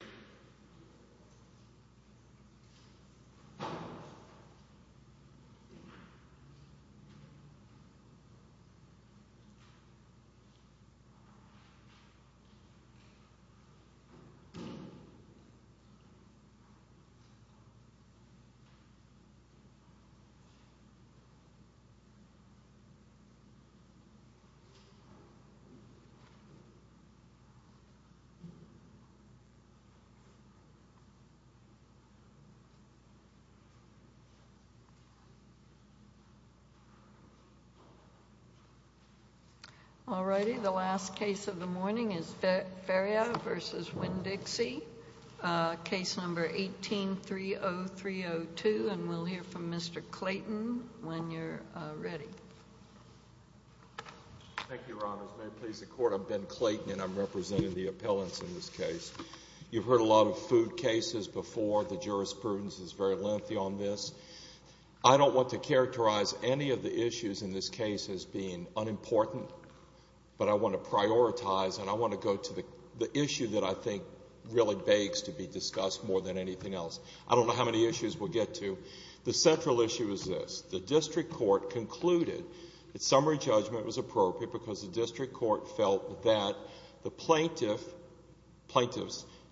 Montgomery v. Winn-Dixie All righty, the last case of the morning is Ferriero v. Winn-Dixie, case number 18-30302 and we'll hear from Mr. Clayton when you're ready. Thank you, Your Honors. May it please the Court, I'm Ben Clayton and I'm representing the appellants in this case. You've heard a lot of food cases before, the jurisprudence is very lengthy on this. I don't want to characterize any of the issues in this case as being unimportant, but I want to prioritize and I want to go to the issue that I think really begs to be discussed more than anything else. I don't know how many issues we'll get to. The central issue is this, the district court concluded that summary judgment was appropriate because the district court felt that the plaintiffs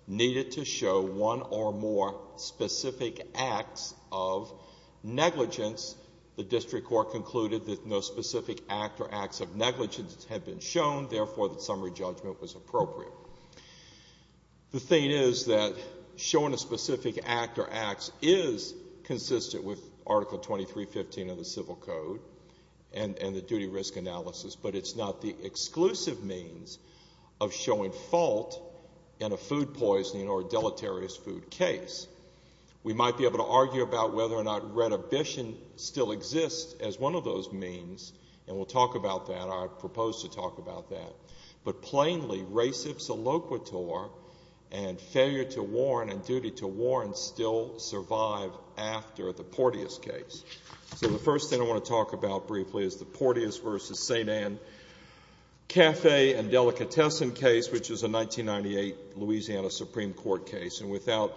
needed to show one or more specific acts of negligence. The district court concluded that no specific act or acts of negligence had been shown, therefore the summary judgment was appropriate. The thing is that showing a specific act or acts is consistent with Article 2315 of the Civil Code and the duty risk analysis, but it's not the exclusive means of showing fault in a food poisoning or a deleterious food case. We might be able to argue about whether or not renovation still exists as one of those means, and we'll talk about that or I propose to talk about that. But plainly, res ipsa loquitur and failure to warn and duty to warn still survive after the Porteus case. So the first thing I want to talk about briefly is the Porteus v. St. Ann Cafe and Delicatessen case, which is a 1998 Louisiana Supreme Court case. And without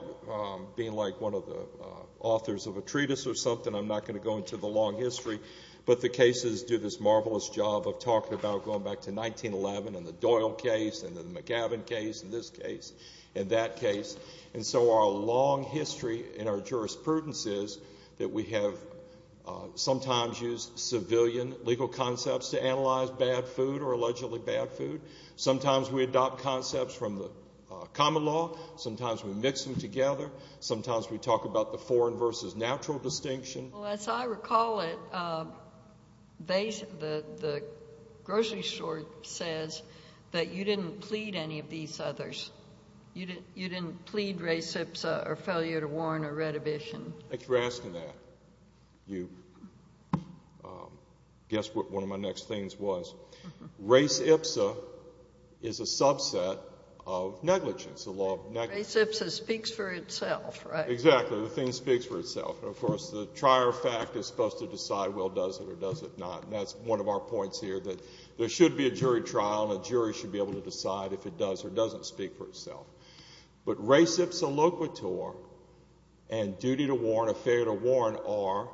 being like one of the authors of a treatise or something, I'm not going to go into the long history, but the cases do this marvelous job of talking about going back to 1911 and the Doyle case and the McGavin case and this case and that case. And so our long history in our jurisprudence is that we have sometimes used civilian legal concepts to analyze bad food or allegedly bad food. Sometimes we adopt concepts from the common law. Sometimes we mix them together. Sometimes we talk about the foreign versus natural distinction. Well, as I recall it, the grocery store says that you didn't plead any of these others. You didn't plead res ipsa or failure to warn or retribution. Thanks for asking that. You guessed what one of my next things was. Res ipsa is a subset of negligence, the law of negligence. Res ipsa speaks for itself, right? Exactly. The thing speaks for itself. And, of course, the trier of fact is supposed to decide, well, does it or does it not? And that's one of our points here, that there should be a jury trial and a jury should be able to decide if it does or doesn't speak for itself. But res ipsa loquitur and duty to warn or failure to warn are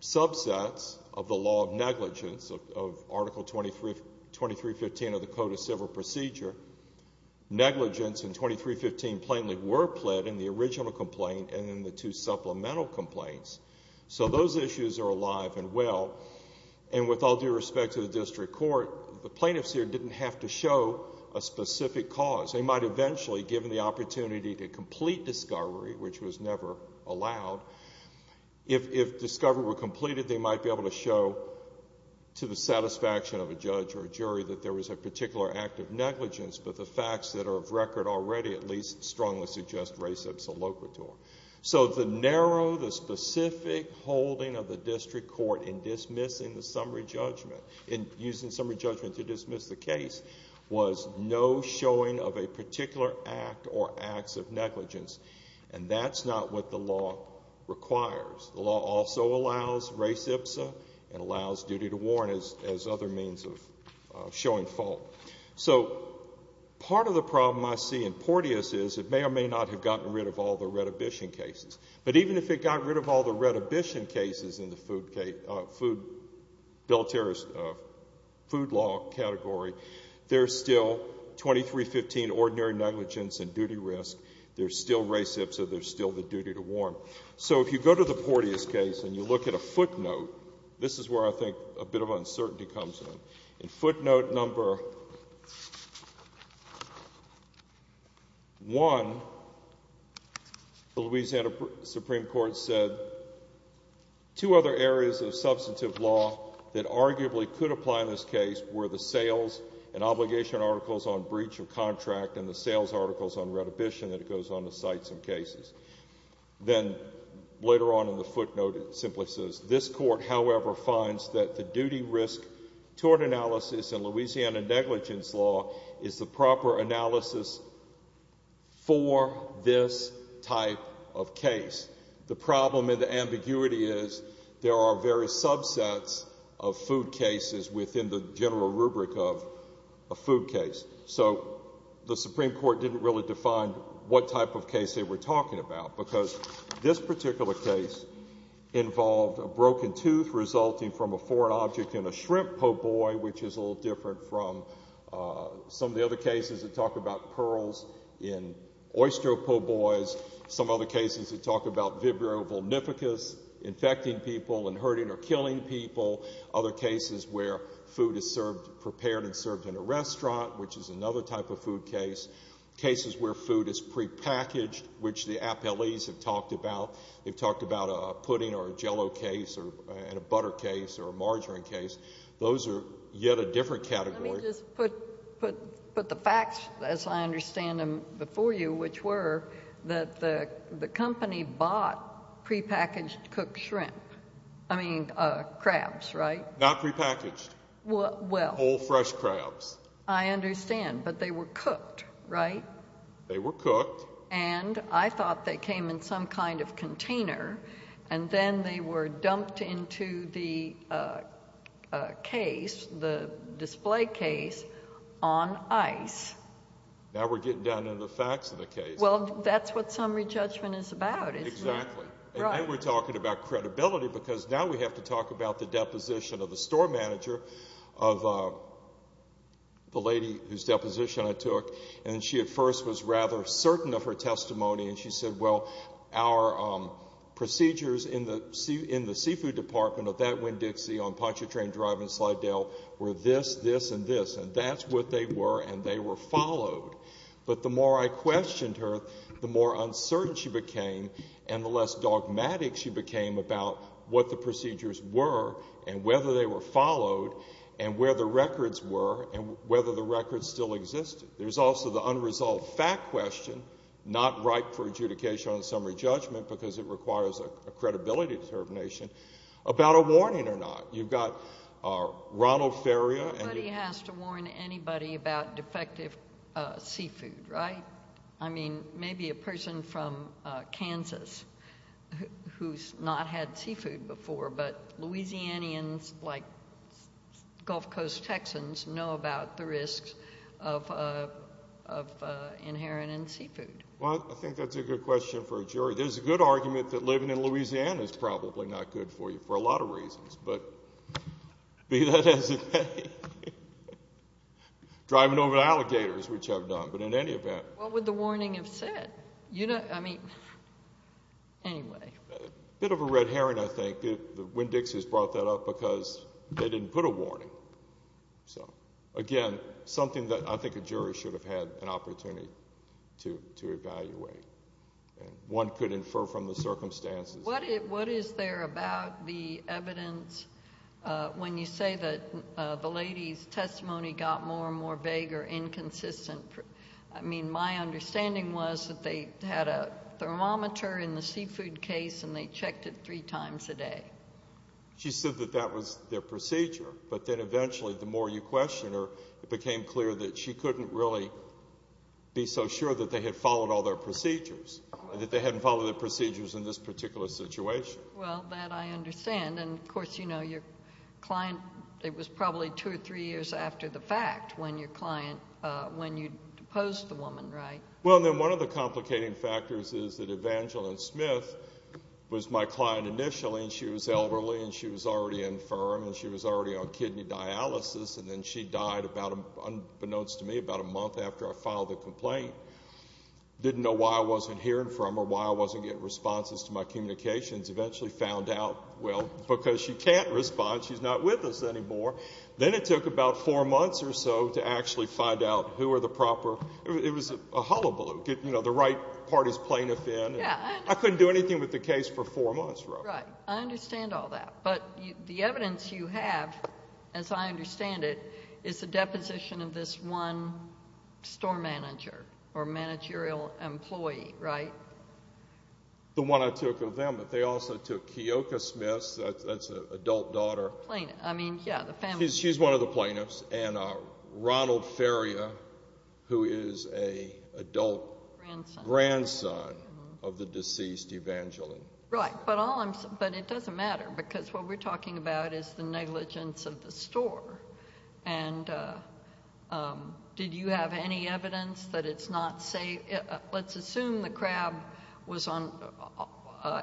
subsets of the law of negligence of Article 2315 of the Code of Civil Procedure. Negligence in 2315 plainly were pled in the original complaint and in the two supplemental complaints. So those issues are alive and well. And with all due respect to the district court, the plaintiffs here didn't have to show a specific cause. They might eventually, given the opportunity to complete discovery, which was never allowed, if discovery were completed, they might be able to show to the satisfaction of a judge or a jury that there was a particular act of negligence, but the facts that are of record already at least strongly suggest res ipsa loquitur. So the narrow, the specific holding of the district court in dismissing the summary judgment, in using summary judgment to dismiss the case, was no showing of a particular act or acts of negligence. And that's not what the law requires. The law also allows res ipsa and allows duty to warn as other means of showing fault. So part of the problem I see in Porteus is it may or may not have gotten rid of all the redhibition cases. But even if it got rid of all the redhibition cases in the food, food, deleterious food law category, there's still 2315 ordinary negligence and duty risk. There's still res ipsa. There's still the duty to warn. So if you go to the Porteus case and you look at a footnote, this is where I think a bit of uncertainty comes in. In footnote number 1, the Louisiana Supreme Court said two other areas of substantive law that arguably could apply in this case were the sales and obligation articles on breach of contract and the sales articles on redhibition that goes on to cite some cases. Then later on in the footnote, it simply says, this court, however, finds that the duty risk toward analysis in Louisiana negligence law is the proper analysis for this type of case. The problem and the ambiguity is there are various subsets of food cases within the general rubric of a food case. So the Supreme Court didn't really define what type of case they were talking about because this particular case involved a broken tooth resulting from a foreign object in a shrimp po' boy, which is a little different from some of the other cases that talk about pearls in oyster po' boys, some other cases that talk about vibrio volnificus infecting people and hurting or killing people, other cases where food is served prepared and served in a restaurant, which is another type of food case, cases where food is prepackaged, which the appellees have talked about. They've talked about a pudding or a jello case and a butter case or a margarine case. Those are yet a different category. Let me just put the facts as I understand them before you, which were that the company bought prepackaged cooked shrimp, I mean crabs, right? Not prepackaged. Well. Whole fresh crabs. I understand, but they were cooked, right? They were cooked. And I thought they came in some kind of container and then they were dumped into the case, the display case, on ice. Now we're getting down to the facts of the case. Well, that's what summary judgment is about, isn't it? Exactly. And then we're talking about credibility because now we have to talk about the deposition of the store manager, of the lady whose deposition I took, and she at first was rather certain of her testimony, and she said, well, our procedures in the seafood department of that Winn-Dixie on Pontchartrain Drive in Slidell were this, this, and this, and that's what they were, and they were followed. But the more I questioned her, the more uncertain she became and the less dogmatic she became about what the procedures were and whether they were followed and where the records were and whether the records still existed. There's also the unresolved fact question, not ripe for adjudication on summary judgment because it requires a credibility determination, about a warning or not. You've got Ronald Ferrier and you've got... Nobody has to warn anybody about defective seafood, right? I mean, maybe a person from Kansas who's not had seafood before, but Louisianians like Gulf Coast Texans know about the risks of inheriting seafood. Well, I think that's a good question for a jury. There's a good argument that living in Louisiana is probably not good for you for a lot of reasons, but be that as it may. Driving over alligators, which I've done, but in any event. What would the warning have said? I mean, anyway. A bit of a red herring, I think, the Winn-Dixies brought that up because they didn't put a warning. So, again, something that I think a jury should have had an opportunity to evaluate. One could infer from the circumstances. What is there about the evidence when you say that the lady's testimony got more and more vague or inconsistent? I mean, my understanding was that they had a thermometer in the seafood case and they checked it three times a day. She said that that was their procedure, but then eventually the more you questioned her, it became clear that she couldn't really be so sure that they had followed all their procedures and that they hadn't followed their procedures in this particular situation. Well, that I understand. And, of course, you know, your client, it was probably two or three years after the fact when you deposed the woman, right? Well, and then one of the complicating factors is that Evangeline Smith was my client initially and she was elderly and she was already infirm and she was already on kidney dialysis and then she died, unbeknownst to me, about a month after I filed the complaint. Didn't know why I wasn't hearing from her, why I wasn't getting responses to my communications. Eventually found out, well, because she can't respond, she's not with us anymore. Then it took about four months or so to actually find out who were the proper... It was a hullabaloo. You know, the right party's plaintiff in. I couldn't do anything with the case for four months. Right. I understand all that. But the evidence you have, as I understand it, is the deposition of this one store manager or managerial employee, right? The one I took of them. But they also took Keoka Smith, that's an adult daughter. Plaintiff. I mean, yeah, the family... She's one of the plaintiffs. And Ronald Faria, who is an adult grandson of the deceased Evangeline. Right, but it doesn't matter, because what we're talking about is the negligence of the store. And did you have any evidence that it's not safe? Let's assume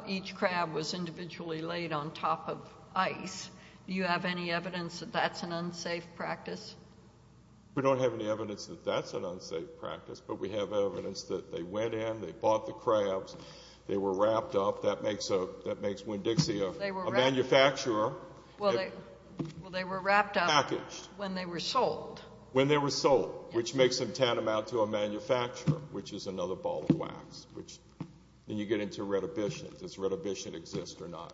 each crab was individually laid on top of ice. Do you have any evidence that that's an unsafe practice? We don't have any evidence that that's an unsafe practice, but we have evidence that they went in, they bought the crabs, they were wrapped up. That makes Winn-Dixie a manufacturer. Well, they were wrapped up... Packaged. When they were sold. When they were sold, which makes them tantamount to a manufacturer, which is another ball of wax. Then you get into retribution. Does retribution exist or not?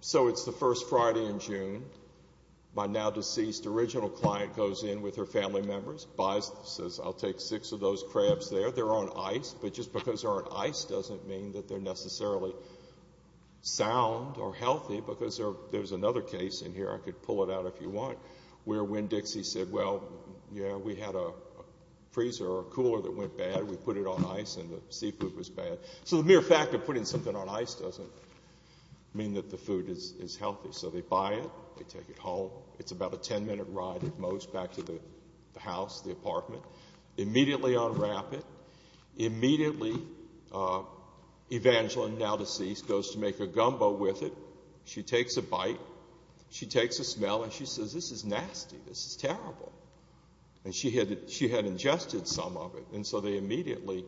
So it's the first Friday in June. My now-deceased original client goes in with her family members, buys, says, I'll take six of those crabs there. They're on ice, but just because they're on ice doesn't mean that they're necessarily sound or healthy, because there's another case in here, I could pull it out if you want, where Winn-Dixie said, well, yeah, we had a freezer or a cooler that went bad. We put it on ice and the seafood was bad. So the mere fact of putting something on ice doesn't mean that the food is healthy. So they buy it, they take it home. It's about a ten-minute ride at most back to the house, the apartment. Immediately unwrap it. Immediately, Evangeline, now deceased, goes to make a gumbo with it. She takes a bite. She takes a smell and she says, this is nasty. This is terrible. And she had ingested some of it. And so they immediately...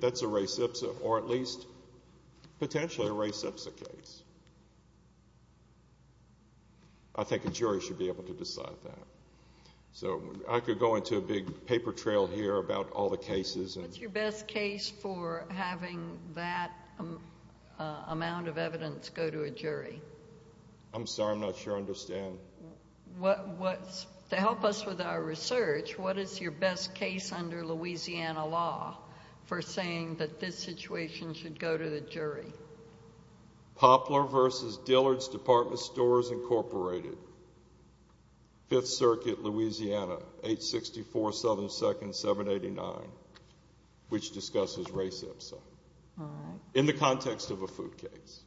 That's a res ipsa or at least potentially a res ipsa case. I think a jury should be able to decide that. So I could go into a big paper trail here about all the cases. What's your best case for having that amount of evidence go to a jury? I'm sorry, I'm not sure I understand. To help us with our research, what is your best case under Louisiana law for saying that this situation should go to the jury? Poplar v. Dillard's Department Stores, Inc., 5th Circuit, Louisiana, 864 Southern 2nd, 789, which discusses res ipsa in the context of a food case.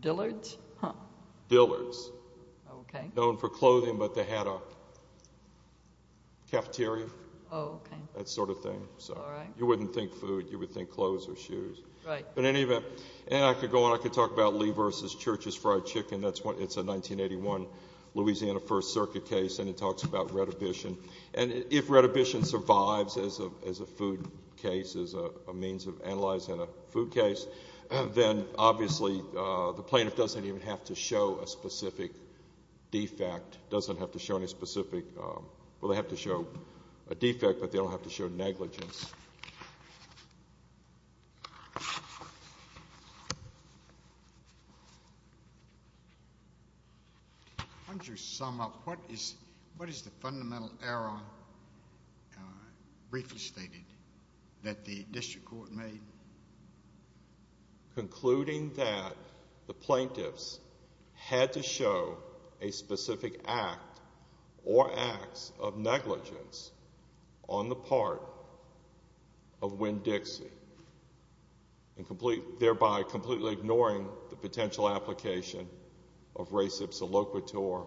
Dillard's? Dillard's. Known for clothing, but they had a cafeteria, that sort of thing. You wouldn't think food, you would think clothes or shoes. Right. In any event, and I could go on, I could talk about Lee v. Church's fried chicken. It's a 1981 Louisiana 1st Circuit case, and it talks about retribution. And if retribution survives as a food case, as a means of analyzing a food case, then obviously the plaintiff doesn't even have to show a specific defect, doesn't have to show any specific... Why don't you sum up, what is the fundamental error briefly stated that the district court made? Concluding that the plaintiffs had to show a specific act or acts of negligence on the part of Winn-Dixie. And thereby completely ignoring the potential application of res ipsa loquitur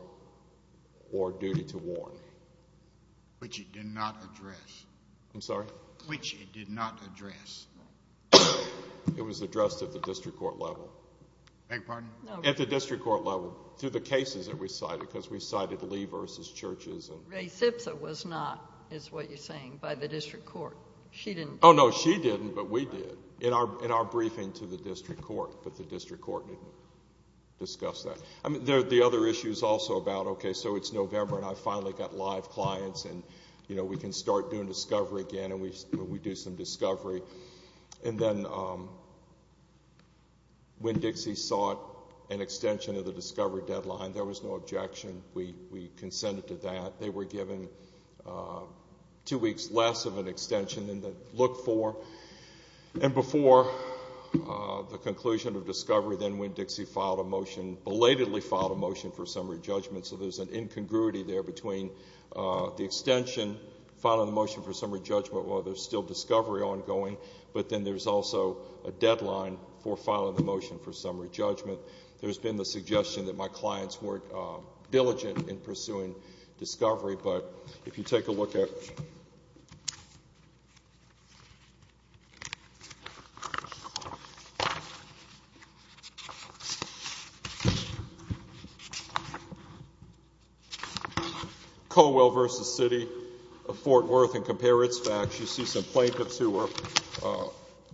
or duty to warn. Which it did not address. I'm sorry? Which it did not address. It was addressed at the district court level. Beg your pardon? At the district court level, through the cases that we cited, because we cited Lee v. Church's. Res ipsa was not, is what you're saying, by the district court. She didn't. Oh, no, she didn't, but we did. In our briefing to the district court. But the district court didn't discuss that. The other issue is also about, okay, so it's November and I finally got live clients and we can start doing discovery again and we do some discovery. And then Winn-Dixie sought an extension of the discovery deadline. There was no objection. We consented to that. They were given two weeks less of an extension than they looked for. And before the conclusion of discovery, then Winn-Dixie belatedly filed a motion for summary judgment. So there's an incongruity there between the extension, filing a motion for summary judgment while there's still discovery ongoing, but then there's also a deadline for filing the motion for summary judgment. There's been the suggestion that my clients weren't diligent in pursuing discovery. But if you take a look at Colwell v. City of Fort Worth and compare its facts, you see some plaintiffs who were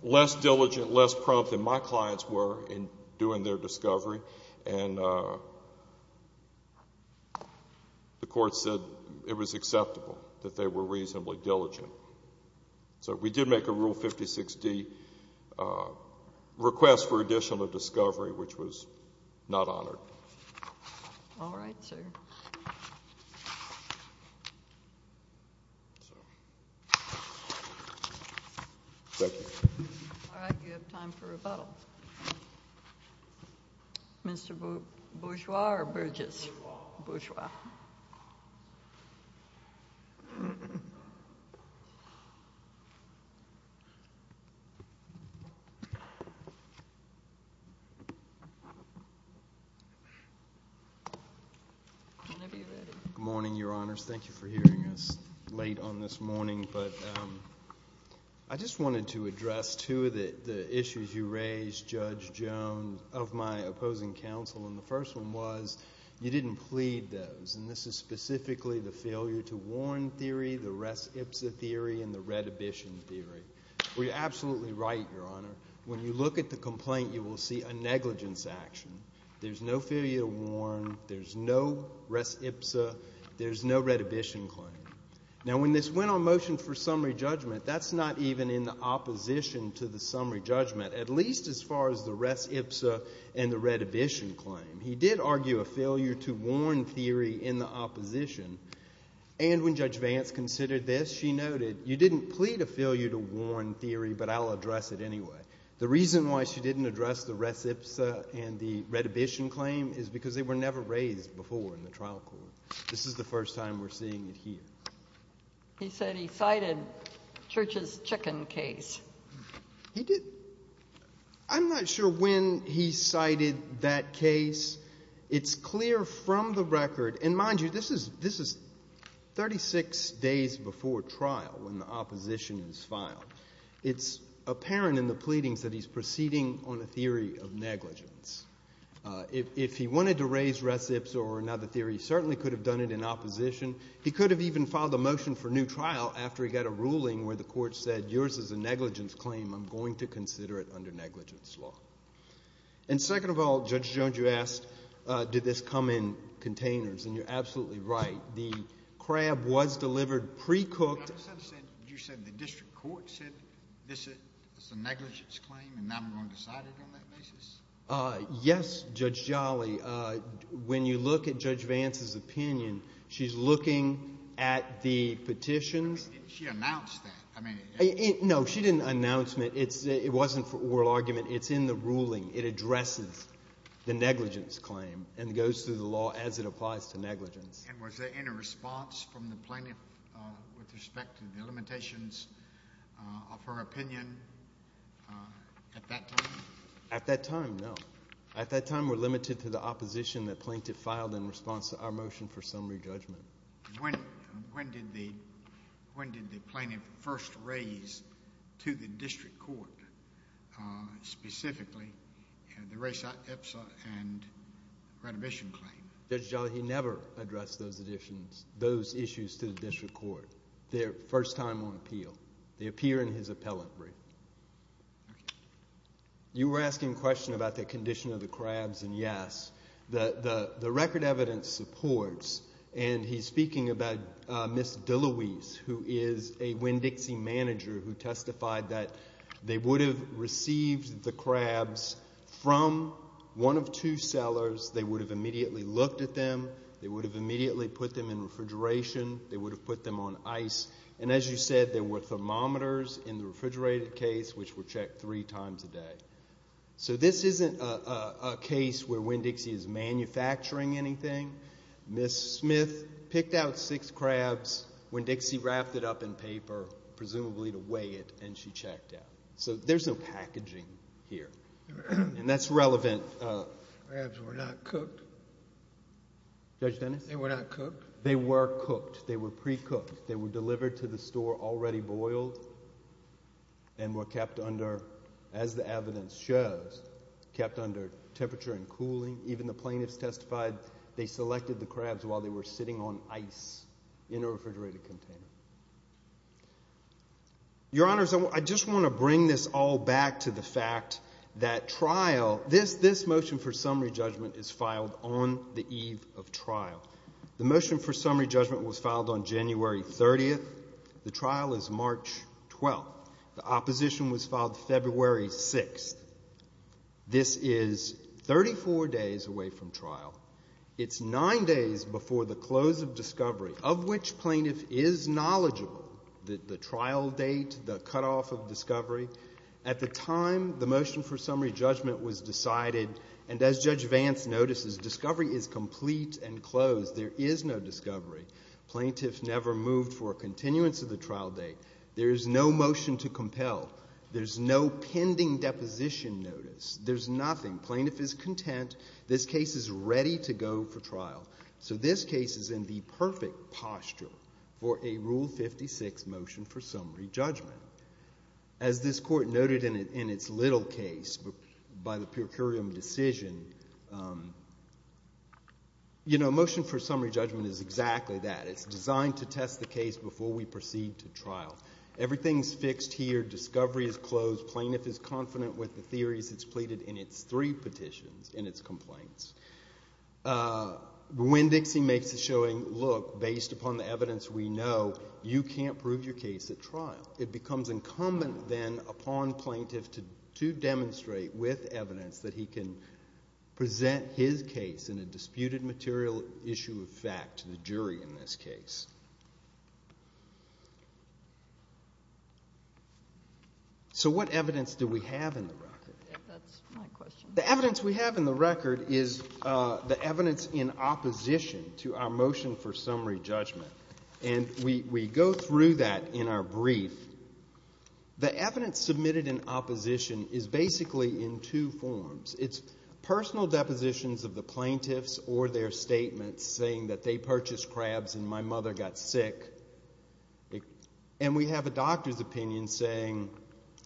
less diligent, less prompt than my clients were in doing their discovery. And the court said it was acceptable that they were reasonably diligent. So we did make a Rule 56D request for additional discovery, which was not honored. All right, sir. Thank you. All right, you have time for rebuttal. Mr. Bourgeois or Burgess? Bourgeois. Bourgeois. Good morning, Your Honors. Thank you for hearing us late on this morning. But I just wanted to address two of the issues you raised, Judge Jones, of my opposing counsel. And the first one was you didn't plead those, and this is specifically the failure to warn theory, the res ipsa theory, and the redhibition theory. Well, you're absolutely right, Your Honor. When you look at the complaint, you will see a negligence action. There's no failure to warn. There's no res ipsa. There's no redhibition claim. Now, when this went on motion for summary judgment, that's not even in the opposition to the summary judgment, at least as far as the res ipsa and the redhibition claim. He did argue a failure to warn theory in the opposition. And when Judge Vance considered this, she noted, you didn't plead a failure to warn theory, but I'll address it anyway. The reason why she didn't address the res ipsa and the redhibition claim is because they were never raised before in the trial court. This is the first time we're seeing it here. He said he cited Church's chicken case. He did? I'm not sure when he cited that case. It's clear from the record. And mind you, this is 36 days before trial when the opposition is filed. It's apparent in the pleadings that he's proceeding on a theory of negligence. If he wanted to raise res ipsa or another theory, he certainly could have done it in opposition. He could have even filed a motion for new trial after he got a ruling where the court said, yours is a negligence claim, I'm going to consider it under negligence law. And second of all, Judge Jones, you asked, did this come in containers? And you're absolutely right. The crab was delivered precooked. You said the district court said this is a negligence claim and not going to cite it on that basis? Yes, Judge Jolly. When you look at Judge Vance's opinion, she's looking at the petitions. She announced that. No, she didn't announce it. It wasn't for oral argument. It's in the ruling. It addresses the negligence claim and goes through the law as it applies to negligence. And was there any response from the plaintiff with respect to the limitations of her opinion at that time? At that time, no. At that time, we're limited to the opposition that plaintiff filed in response to our motion for summary judgment. When did the plaintiff first raise to the district court, specifically the race epsa and renovation claim? Judge Jolly, he never addressed those issues to the district court. They're first time on appeal. They appear in his appellate brief. You were asking a question about the condition of the crabs, and yes. The record evidence supports, and he's speaking about Ms. DeLuise, who is a Winn-Dixie manager who testified that they would have received the crabs from one of two cellars. They would have immediately looked at them. They would have immediately put them in refrigeration. They would have put them on ice. And as you said, there were thermometers in the refrigerated case which were checked three times a day. So this isn't a case where Winn-Dixie is manufacturing anything. Ms. Smith picked out six crabs. Winn-Dixie wrapped it up in paper, presumably to weigh it, and she checked out. So there's no packaging here, and that's relevant. The crabs were not cooked? Judge Dennis? They were not cooked? They were cooked. They were pre-cooked. They were delivered to the store already boiled and were kept under, as the evidence shows, kept under temperature and cooling. Even the plaintiffs testified they selected the crabs while they were sitting on ice in a refrigerated container. Your Honors, I just want to bring this all back to the fact that trial, this motion for summary judgment is filed on the eve of trial. The motion for summary judgment was filed on January 30th. The trial is March 12th. The opposition was filed February 6th. This is 34 days away from trial. It's nine days before the close of discovery, of which plaintiff is knowledgeable, the trial date, the cutoff of discovery. At the time the motion for summary judgment was decided, and as Judge Vance notices, discovery is complete and closed. There is no discovery. Plaintiff never moved for a continuance of the trial date. There is no motion to compel. There's no pending deposition notice. There's nothing. Plaintiff is content. This case is ready to go for trial. So this case is in the perfect posture for a Rule 56 motion for summary judgment. As this Court noted in its little case by the per curiam decision, you know, motion for summary judgment is exactly that. It's designed to test the case before we proceed to trial. Everything is fixed here. Discovery is closed. Plaintiff is confident with the theories that's pleaded in its three petitions, in its complaints. When Dixie makes a showing, look, based upon the evidence we know, you can't prove your case at trial. It becomes incumbent then upon plaintiff to demonstrate with evidence that he can present his case in a disputed material issue of fact to the jury in this case. So what evidence do we have in the record? That's my question. The evidence we have in the record is the evidence in opposition to our motion for summary judgment. And we go through that in our brief. The evidence submitted in opposition is basically in two forms. It's personal depositions of the plaintiffs or their statements saying that they purchased crabs and my mother got sick. And we have a doctor's opinion saying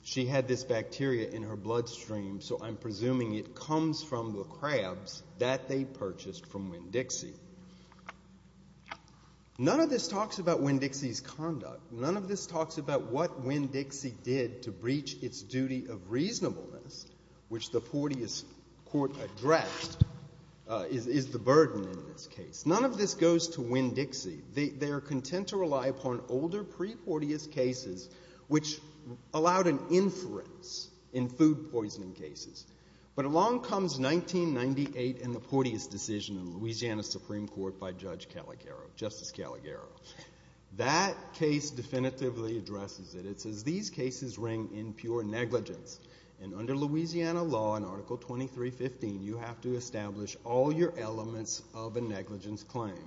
she had this bacteria in her bloodstream, so I'm presuming it comes from the crabs that they purchased from Winn-Dixie. None of this talks about Winn-Dixie's conduct. None of this talks about what Winn-Dixie did to breach its duty of reasonableness, which the Porteous Court addressed is the burden in this case. None of this goes to Winn-Dixie. They are content to rely upon older pre-Porteous cases, which allowed an inference in food poisoning cases. But along comes 1998 and the Porteous decision in Louisiana Supreme Court by Judge Caligaro, Justice Caligaro. That case definitively addresses it. It says these cases ring in pure negligence. And under Louisiana law in Article 2315, you have to establish all your elements of a negligence claim.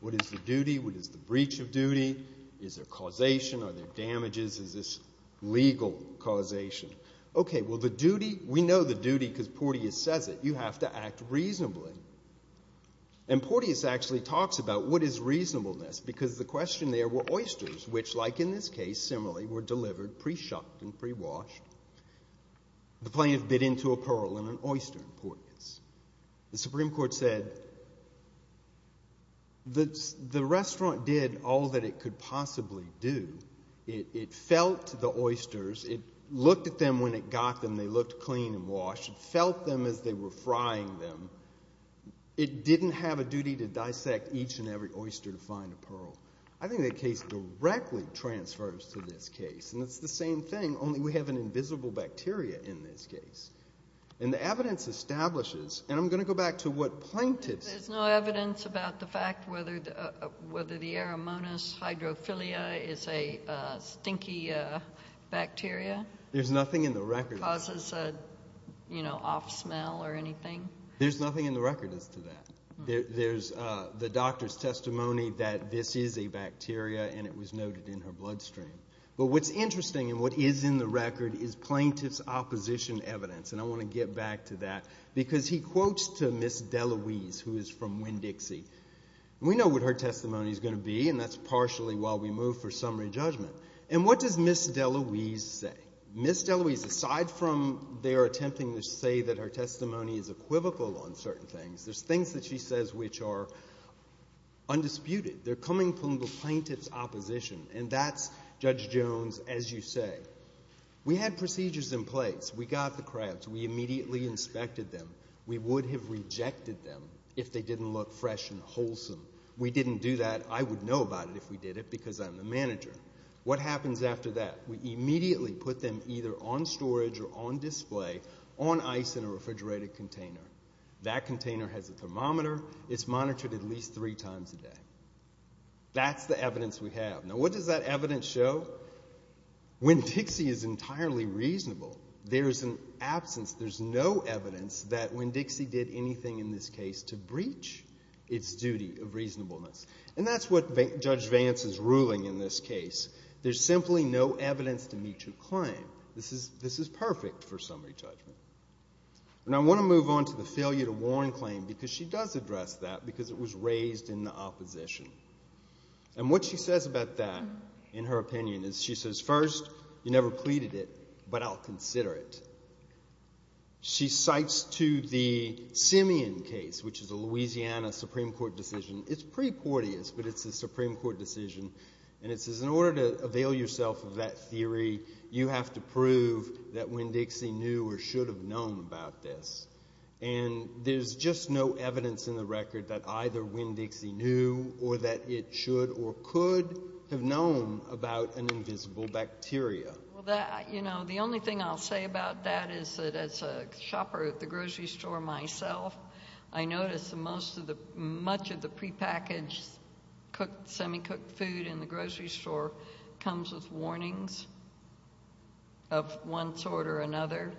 What is the duty? What is the breach of duty? Is there causation? Are there damages? Is this legal causation? Okay, well, the duty, we know the duty because Porteous says it. You have to act reasonably. And Porteous actually talks about what is reasonableness because the question there were oysters, which, like in this case, similarly were delivered pre-shucked and pre-washed. The plaintiff bit into a pearl in an oyster in Porteous. The Supreme Court said the restaurant did all that it could possibly do. It felt the oysters. It looked at them when it got them. They looked clean and washed. It felt them as they were frying them. It didn't have a duty to dissect each and every oyster to find a pearl. I think that case directly transfers to this case. And it's the same thing, only we have an invisible bacteria in this case. And the evidence establishes, and I'm going to go back to what plaintiffs said. There's no evidence about the fact whether the Eremonis hydrophilia is a stinky bacteria? There's nothing in the record. Causes an off smell or anything? There's nothing in the record as to that. There's the doctor's testimony that this is a bacteria, and it was noted in her bloodstream. But what's interesting and what is in the record is plaintiff's opposition evidence. And I want to get back to that because he quotes to Ms. DeLuise, who is from Winn-Dixie. We know what her testimony is going to be, and that's partially while we move for summary judgment. And what does Ms. DeLuise say? Ms. DeLuise, aside from their attempting to say that her testimony is equivocal on certain things, there's things that she says which are undisputed. They're coming from the plaintiff's opposition, and that's Judge Jones as you say. We had procedures in place. We got the crabs. We immediately inspected them. We would have rejected them if they didn't look fresh and wholesome. We didn't do that. I would know about it if we did it because I'm the manager. What happens after that? We immediately put them either on storage or on display on ice in a refrigerated container. That container has a thermometer. It's monitored at least three times a day. That's the evidence we have. Now, what does that evidence show? Winn-Dixie is entirely reasonable. There is an absence. There's no evidence that Winn-Dixie did anything in this case to breach its duty of reasonableness. And that's what Judge Vance is ruling in this case. There's simply no evidence to meet your claim. This is perfect for summary judgment. And I want to move on to the failure to warn claim because she does address that because it was raised in the opposition. And what she says about that in her opinion is she says, First, you never pleaded it, but I'll consider it. She cites to the Simeon case, which is a Louisiana Supreme Court decision. It's pretty courteous, but it's a Supreme Court decision. And it says in order to avail yourself of that theory, you have to prove that Winn-Dixie knew or should have known about this. And there's just no evidence in the record that either Winn-Dixie knew or that it should or could have known about an invisible bacteria. The only thing I'll say about that is that as a shopper at the grocery store myself, I notice that much of the prepackaged semi-cooked food in the grocery store comes with warnings of one sort or another,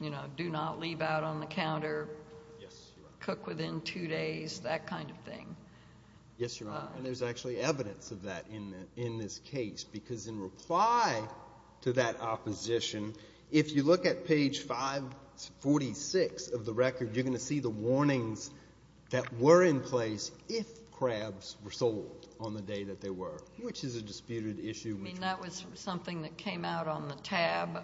you know, do not leave out on the counter, cook within two days, that kind of thing. Yes, Your Honor, and there's actually evidence of that in this case because in reply to that opposition, if you look at page 546 of the record, you're going to see the warnings that were in place if crabs were sold on the day that they were, which is a disputed issue. I mean, that was something that came out on the tab.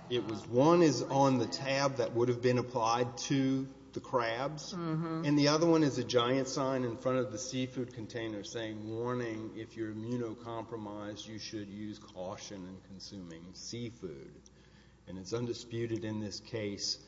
One is on the tab that would have been applied to the crabs, and the other one is a giant sign in front of the seafood container saying, Warning, if you're immunocompromised, you should use caution in consuming seafood. And it's undisputed in this case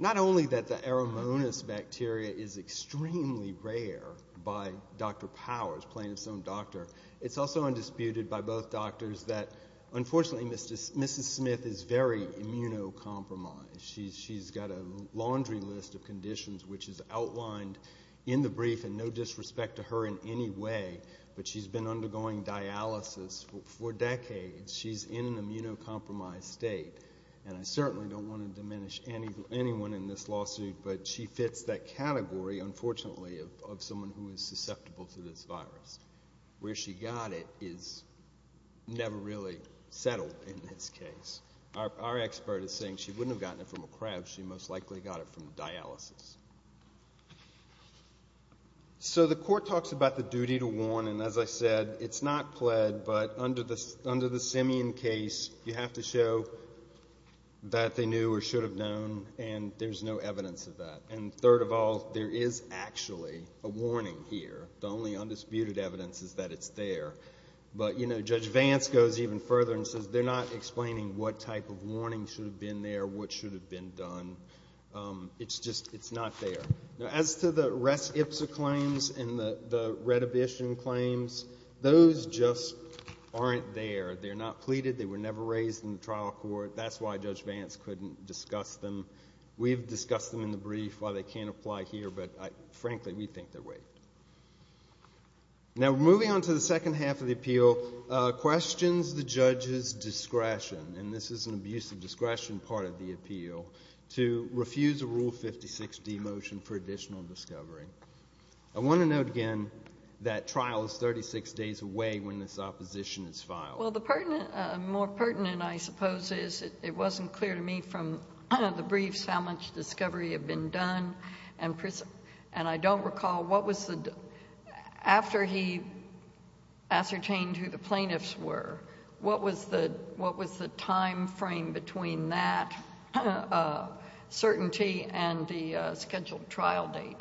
not only that the Aeromonas bacteria is extremely rare by Dr. Powers, playing his own doctor, it's also undisputed by both doctors that, unfortunately, Mrs. Smith is very immunocompromised. She's got a laundry list of conditions which is outlined in the brief and no disrespect to her in any way, but she's been undergoing dialysis for decades. She's in an immunocompromised state, and I certainly don't want to diminish anyone in this lawsuit, but she fits that category, unfortunately, of someone who is susceptible to this virus. Where she got it is never really settled in this case. Our expert is saying she wouldn't have gotten it from a crab. She most likely got it from dialysis. So the court talks about the duty to warn, and as I said, it's not pled, but under the Simian case, you have to show that they knew or should have known, and there's no evidence of that. And third of all, there is actually a warning here. The only undisputed evidence is that it's there. But, you know, Judge Vance goes even further and says they're not explaining what type of warning should have been there, what should have been done. It's just not there. Now, as to the res ipsa claims and the redhibition claims, those just aren't there. They're not pleaded. They were never raised in the trial court. That's why Judge Vance couldn't discuss them. We've discussed them in the brief while they can't apply here, but, frankly, we think they're waived. Now, moving on to the second half of the appeal, questions the judge's discretion, and this is an abuse of discretion part of the appeal, to refuse a Rule 56D motion for additional discovery. I want to note again that trial is 36 days away when this opposition is filed. Well, the more pertinent, I suppose, is it wasn't clear to me from the briefs how much discovery had been done, and I don't recall what was the, after he ascertained who the plaintiffs were, what was the timeframe between that certainty and the scheduled trial date?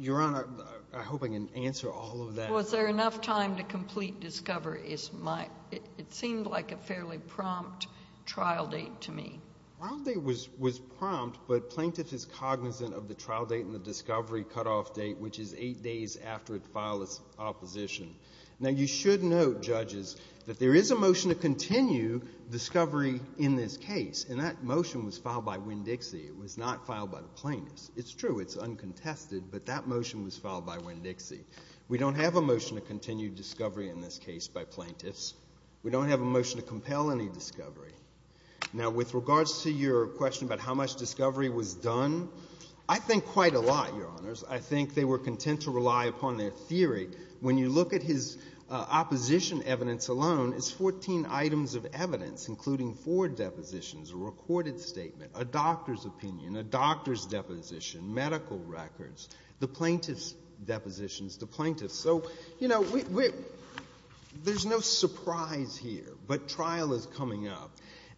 Your Honor, I hope I can answer all of that. Was there enough time to complete discovery? It seemed like a fairly prompt trial date to me. The trial date was prompt, but plaintiff is cognizant of the trial date and the discovery cutoff date, which is eight days after it filed its opposition. Now, you should note, judges, that there is a motion to continue discovery in this case, and that motion was filed by Winn-Dixie. It was not filed by the plaintiffs. It's true, it's uncontested, but that motion was filed by Winn-Dixie. We don't have a motion to continue discovery in this case by plaintiffs. We don't have a motion to compel any discovery. Now, with regards to your question about how much discovery was done, I think quite a lot, Your Honors. I think they were content to rely upon their theory. When you look at his opposition evidence alone, it's 14 items of evidence, including four depositions, a recorded statement, a doctor's opinion, a doctor's deposition, medical records, the plaintiff's depositions, the plaintiffs. So, you know, there's no surprise here, but trial is coming up.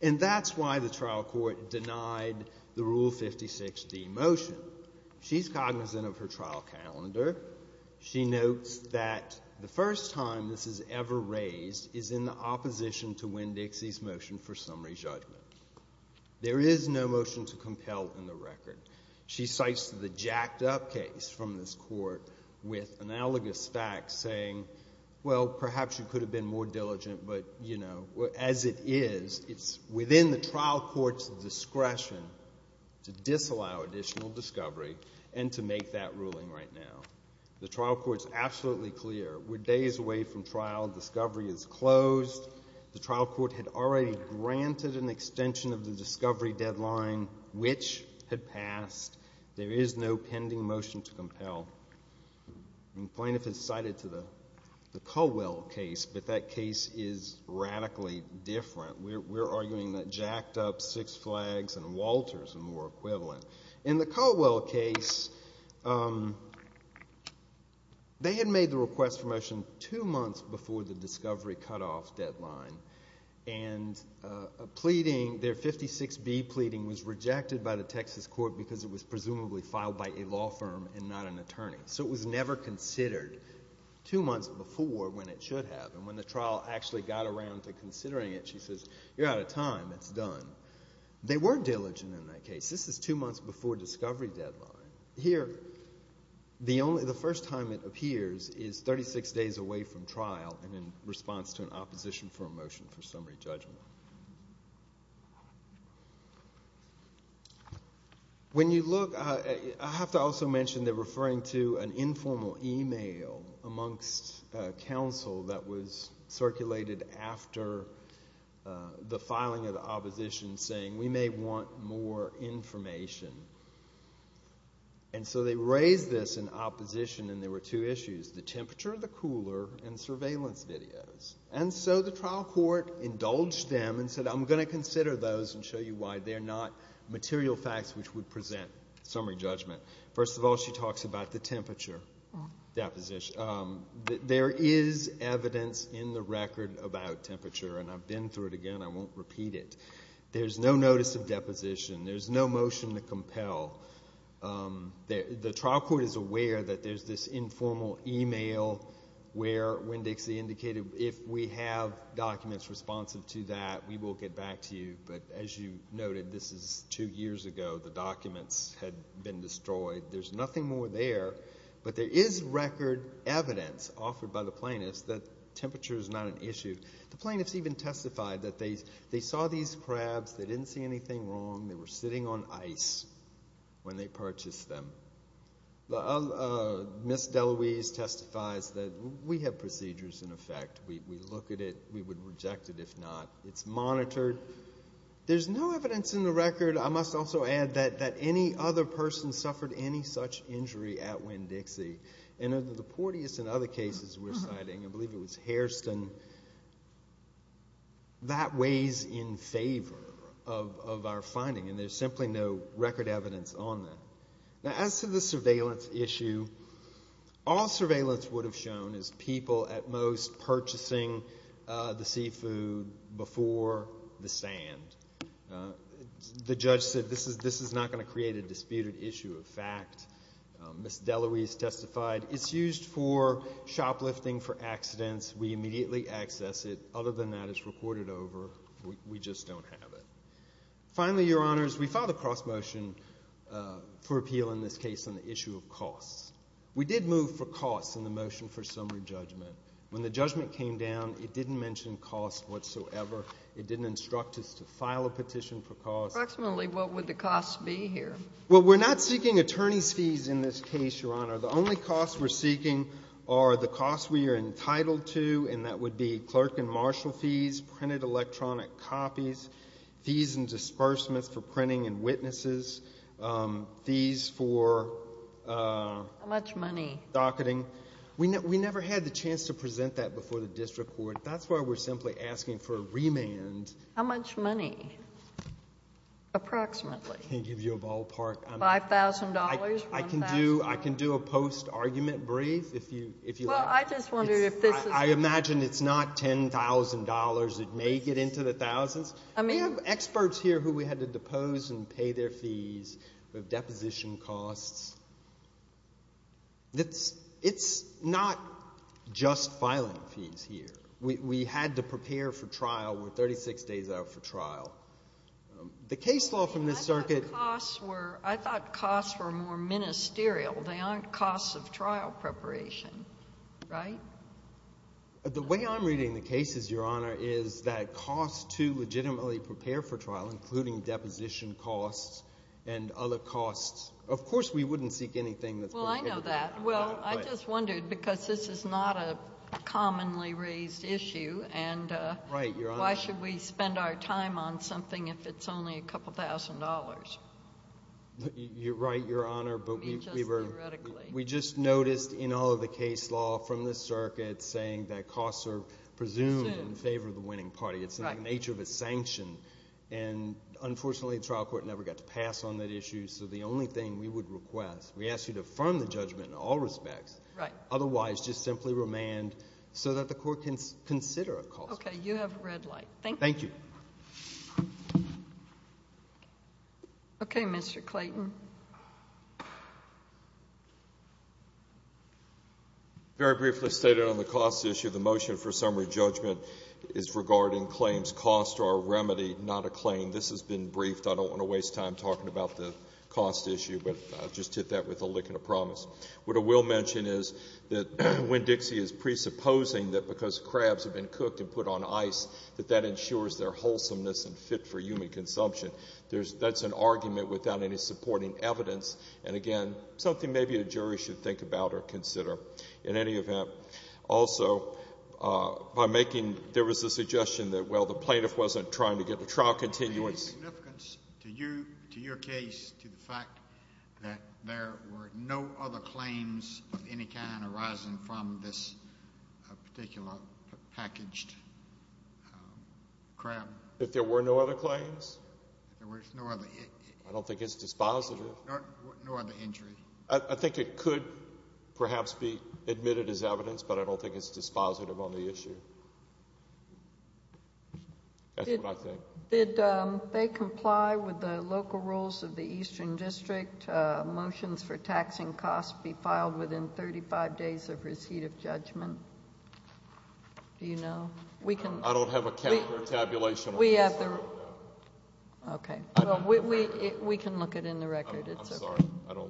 And that's why the trial court denied the Rule 56d motion. She's cognizant of her trial calendar. She notes that the first time this is ever raised is in the opposition to Winn-Dixie's motion for summary judgment. There is no motion to compel in the record. She cites the jacked-up case from this court with analogous facts saying, well, perhaps you could have been more diligent, but, you know, as it is, it's within the trial court's discretion to disallow additional discovery and to make that ruling right now. The trial court's absolutely clear. We're days away from trial. Discovery is closed. The trial court had already granted an extension of the discovery deadline, which had passed. There is no pending motion to compel. And the plaintiff has cited the Caldwell case, but that case is radically different. We're arguing that jacked-up Six Flags and Walters are more equivalent. In the Caldwell case, they had made the request for motion two months before the discovery cutoff deadline, and a pleading, their 56b pleading, was rejected by the Texas court because it was presumably filed by a law firm and not an attorney. So it was never considered two months before when it should have. And when the trial actually got around to considering it, she says, you're out of time. It's done. They were diligent in that case. This is two months before discovery deadline. Here, the first time it appears is 36 days away from trial and in response to an opposition for a motion for summary judgment. When you look, I have to also mention they're referring to an informal e-mail amongst counsel that was circulated after the filing of the opposition saying, we may want more information. And so they raised this in opposition, and there were two issues, the temperature of the cooler and surveillance videos. And so the trial court indulged them and said, I'm going to consider those and show you why they're not material facts which would present summary judgment. First of all, she talks about the temperature deposition. There is evidence in the record about temperature, and I've been through it again. I won't repeat it. There's no notice of deposition. There's no motion to compel. The trial court is aware that there's this informal e-mail where Winn-Dixie indicated, if we have documents responsive to that, we will get back to you. But as you noted, this is two years ago. The documents had been destroyed. There's nothing more there. But there is record evidence offered by the plaintiffs that temperature is not an issue. The plaintiffs even testified that they saw these crabs. They didn't see anything wrong. They were sitting on ice when they purchased them. Ms. DeLuise testifies that we have procedures in effect. We look at it. We would reject it if not. It's monitored. There's no evidence in the record, I must also add, that any other person suffered any such injury at Winn-Dixie. And of the Porteus and other cases we're citing, I believe it was Hairston, that weighs in favor of our finding, and there's simply no record evidence on that. Now, as to the surveillance issue, all surveillance would have shown is people at most purchasing the seafood before the sand. The judge said this is not going to create a disputed issue of fact. Ms. DeLuise testified it's used for shoplifting, for accidents. We immediately access it. Other than that, it's recorded over. We just don't have it. Finally, Your Honors, we filed a cross-motion for appeal in this case on the issue of costs. We did move for costs in the motion for summary judgment. When the judgment came down, it didn't mention costs whatsoever. It didn't instruct us to file a petition for costs. Approximately what would the costs be here? Well, we're not seeking attorney's fees in this case, Your Honor. The only costs we're seeking are the costs we are entitled to, and that would be clerk and marshal fees, printed electronic copies, fees and disbursements for printing and witnesses, fees for docketing. How much money? We never had the chance to present that before the district court. That's why we're simply asking for a remand. How much money, approximately? I can't give you a ballpark. $5,000, $1,000? I can do a post-argument brief if you like. Well, I just wondered if this is— I imagine it's not $10,000. It may get into the thousands. We have experts here who we had to depose and pay their fees with deposition costs. It's not just filing fees here. We had to prepare for trial. We're 36 days out for trial. The case law from this circuit— I thought costs were more ministerial. They aren't costs of trial preparation, right? The way I'm reading the case is, Your Honor, is that costs to legitimately prepare for trial, including deposition costs and other costs—of course we wouldn't seek anything that's going to get— Well, I know that. Well, I just wondered because this is not a commonly raised issue, and why should we spend our time on something if it's only a couple thousand dollars? You're right, Your Honor, but we were— Just theoretically. We just noticed in all of the case law from this circuit saying that costs are presumed in favor of the winning party. It's in the nature of a sanction. And, unfortunately, the trial court never got to pass on that issue, so the only thing we would request—we ask you to affirm the judgment in all respects. Right. Otherwise, just simply remand so that the court can consider a cost. Okay, you have a red light. Thank you. Thank you. Okay, Mr. Clayton. Very briefly stated on the cost issue, the motion for summary judgment is regarding claims cost or remedy, not a claim. This has been briefed. I don't want to waste time talking about the cost issue, but I'll just hit that with a lick and a promise. What I will mention is that when Dixie is presupposing that because crabs have been cooked and put on ice, that that ensures their wholesomeness and fit for human consumption, that's an argument without any supporting evidence, and, again, something maybe a jury should think about or consider. In any event, also, by making—there was a suggestion that, well, the plaintiff wasn't trying to get a trial continuance. Would there be any significance to you, to your case, to the fact that there were no other claims of any kind arising from this particular packaged crab? If there were no other claims? If there were no other— I don't think it's dispositive. No other injury. I think it could perhaps be admitted as evidence, but I don't think it's dispositive on the issue. That's what I think. Did they comply with the local rules of the Eastern District, motions for taxing costs be filed within 35 days of receipt of judgment? Do you know? I don't have a cap or tabulation. Okay. We can look it in the record. I'm sorry.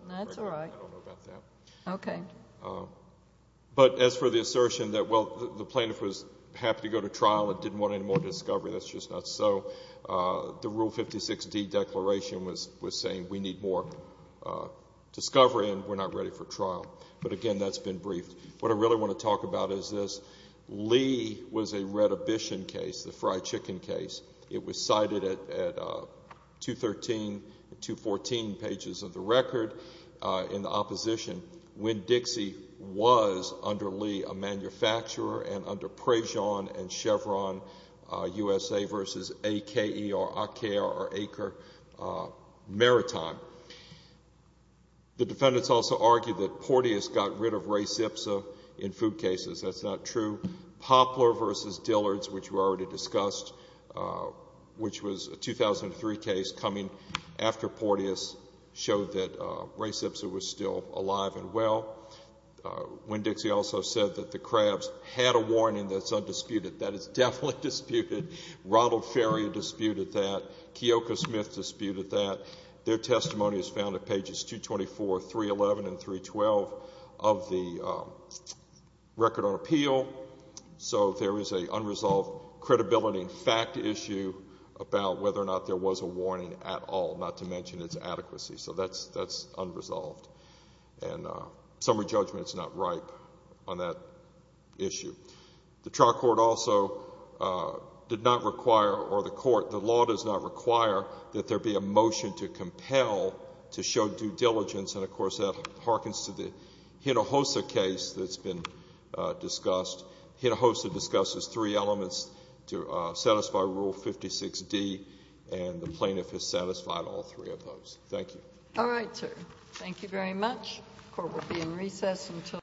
That's all right. I don't know about that. Okay. But as for the assertion that, well, the plaintiff was happy to go to trial and didn't want any more discovery, that's just not so. The Rule 56D declaration was saying we need more discovery and we're not ready for trial. But, again, that's been briefed. What I really want to talk about is this. Lee was a redhibition case, the fried chicken case. It was cited at 213 and 214 pages of the record in the opposition when Dixie was under Lee a manufacturer and under Prejean and Chevron USA v. A.K.E. or A.K.E.R. or A.K.E.R. Maritime. The defendants also argued that Porteous got rid of Ray Sipsa in food cases. That's not true. Poplar v. Dillard's, which we already discussed, which was a 2003 case coming after Porteous, showed that Ray Sipsa was still alive and well. When Dixie also said that the Krabs had a warning that's undisputed, that is definitely disputed. Ronald Ferrier disputed that. Keoka Smith disputed that. Their testimony is found at pages 224, 311, and 312 of the record on appeal. So there is an unresolved credibility and fact issue about whether or not there was a warning at all, not to mention its adequacy. So that's unresolved, and summary judgment is not ripe on that issue. The trial court also did not require, or the court, does not require that there be a motion to compel to show due diligence, and, of course, that hearkens to the Hinojosa case that's been discussed. Hinojosa discusses three elements to satisfy Rule 56D, and the plaintiff has satisfied all three of those. Thank you. All right, sir. The court will be in recess until 9 p.m.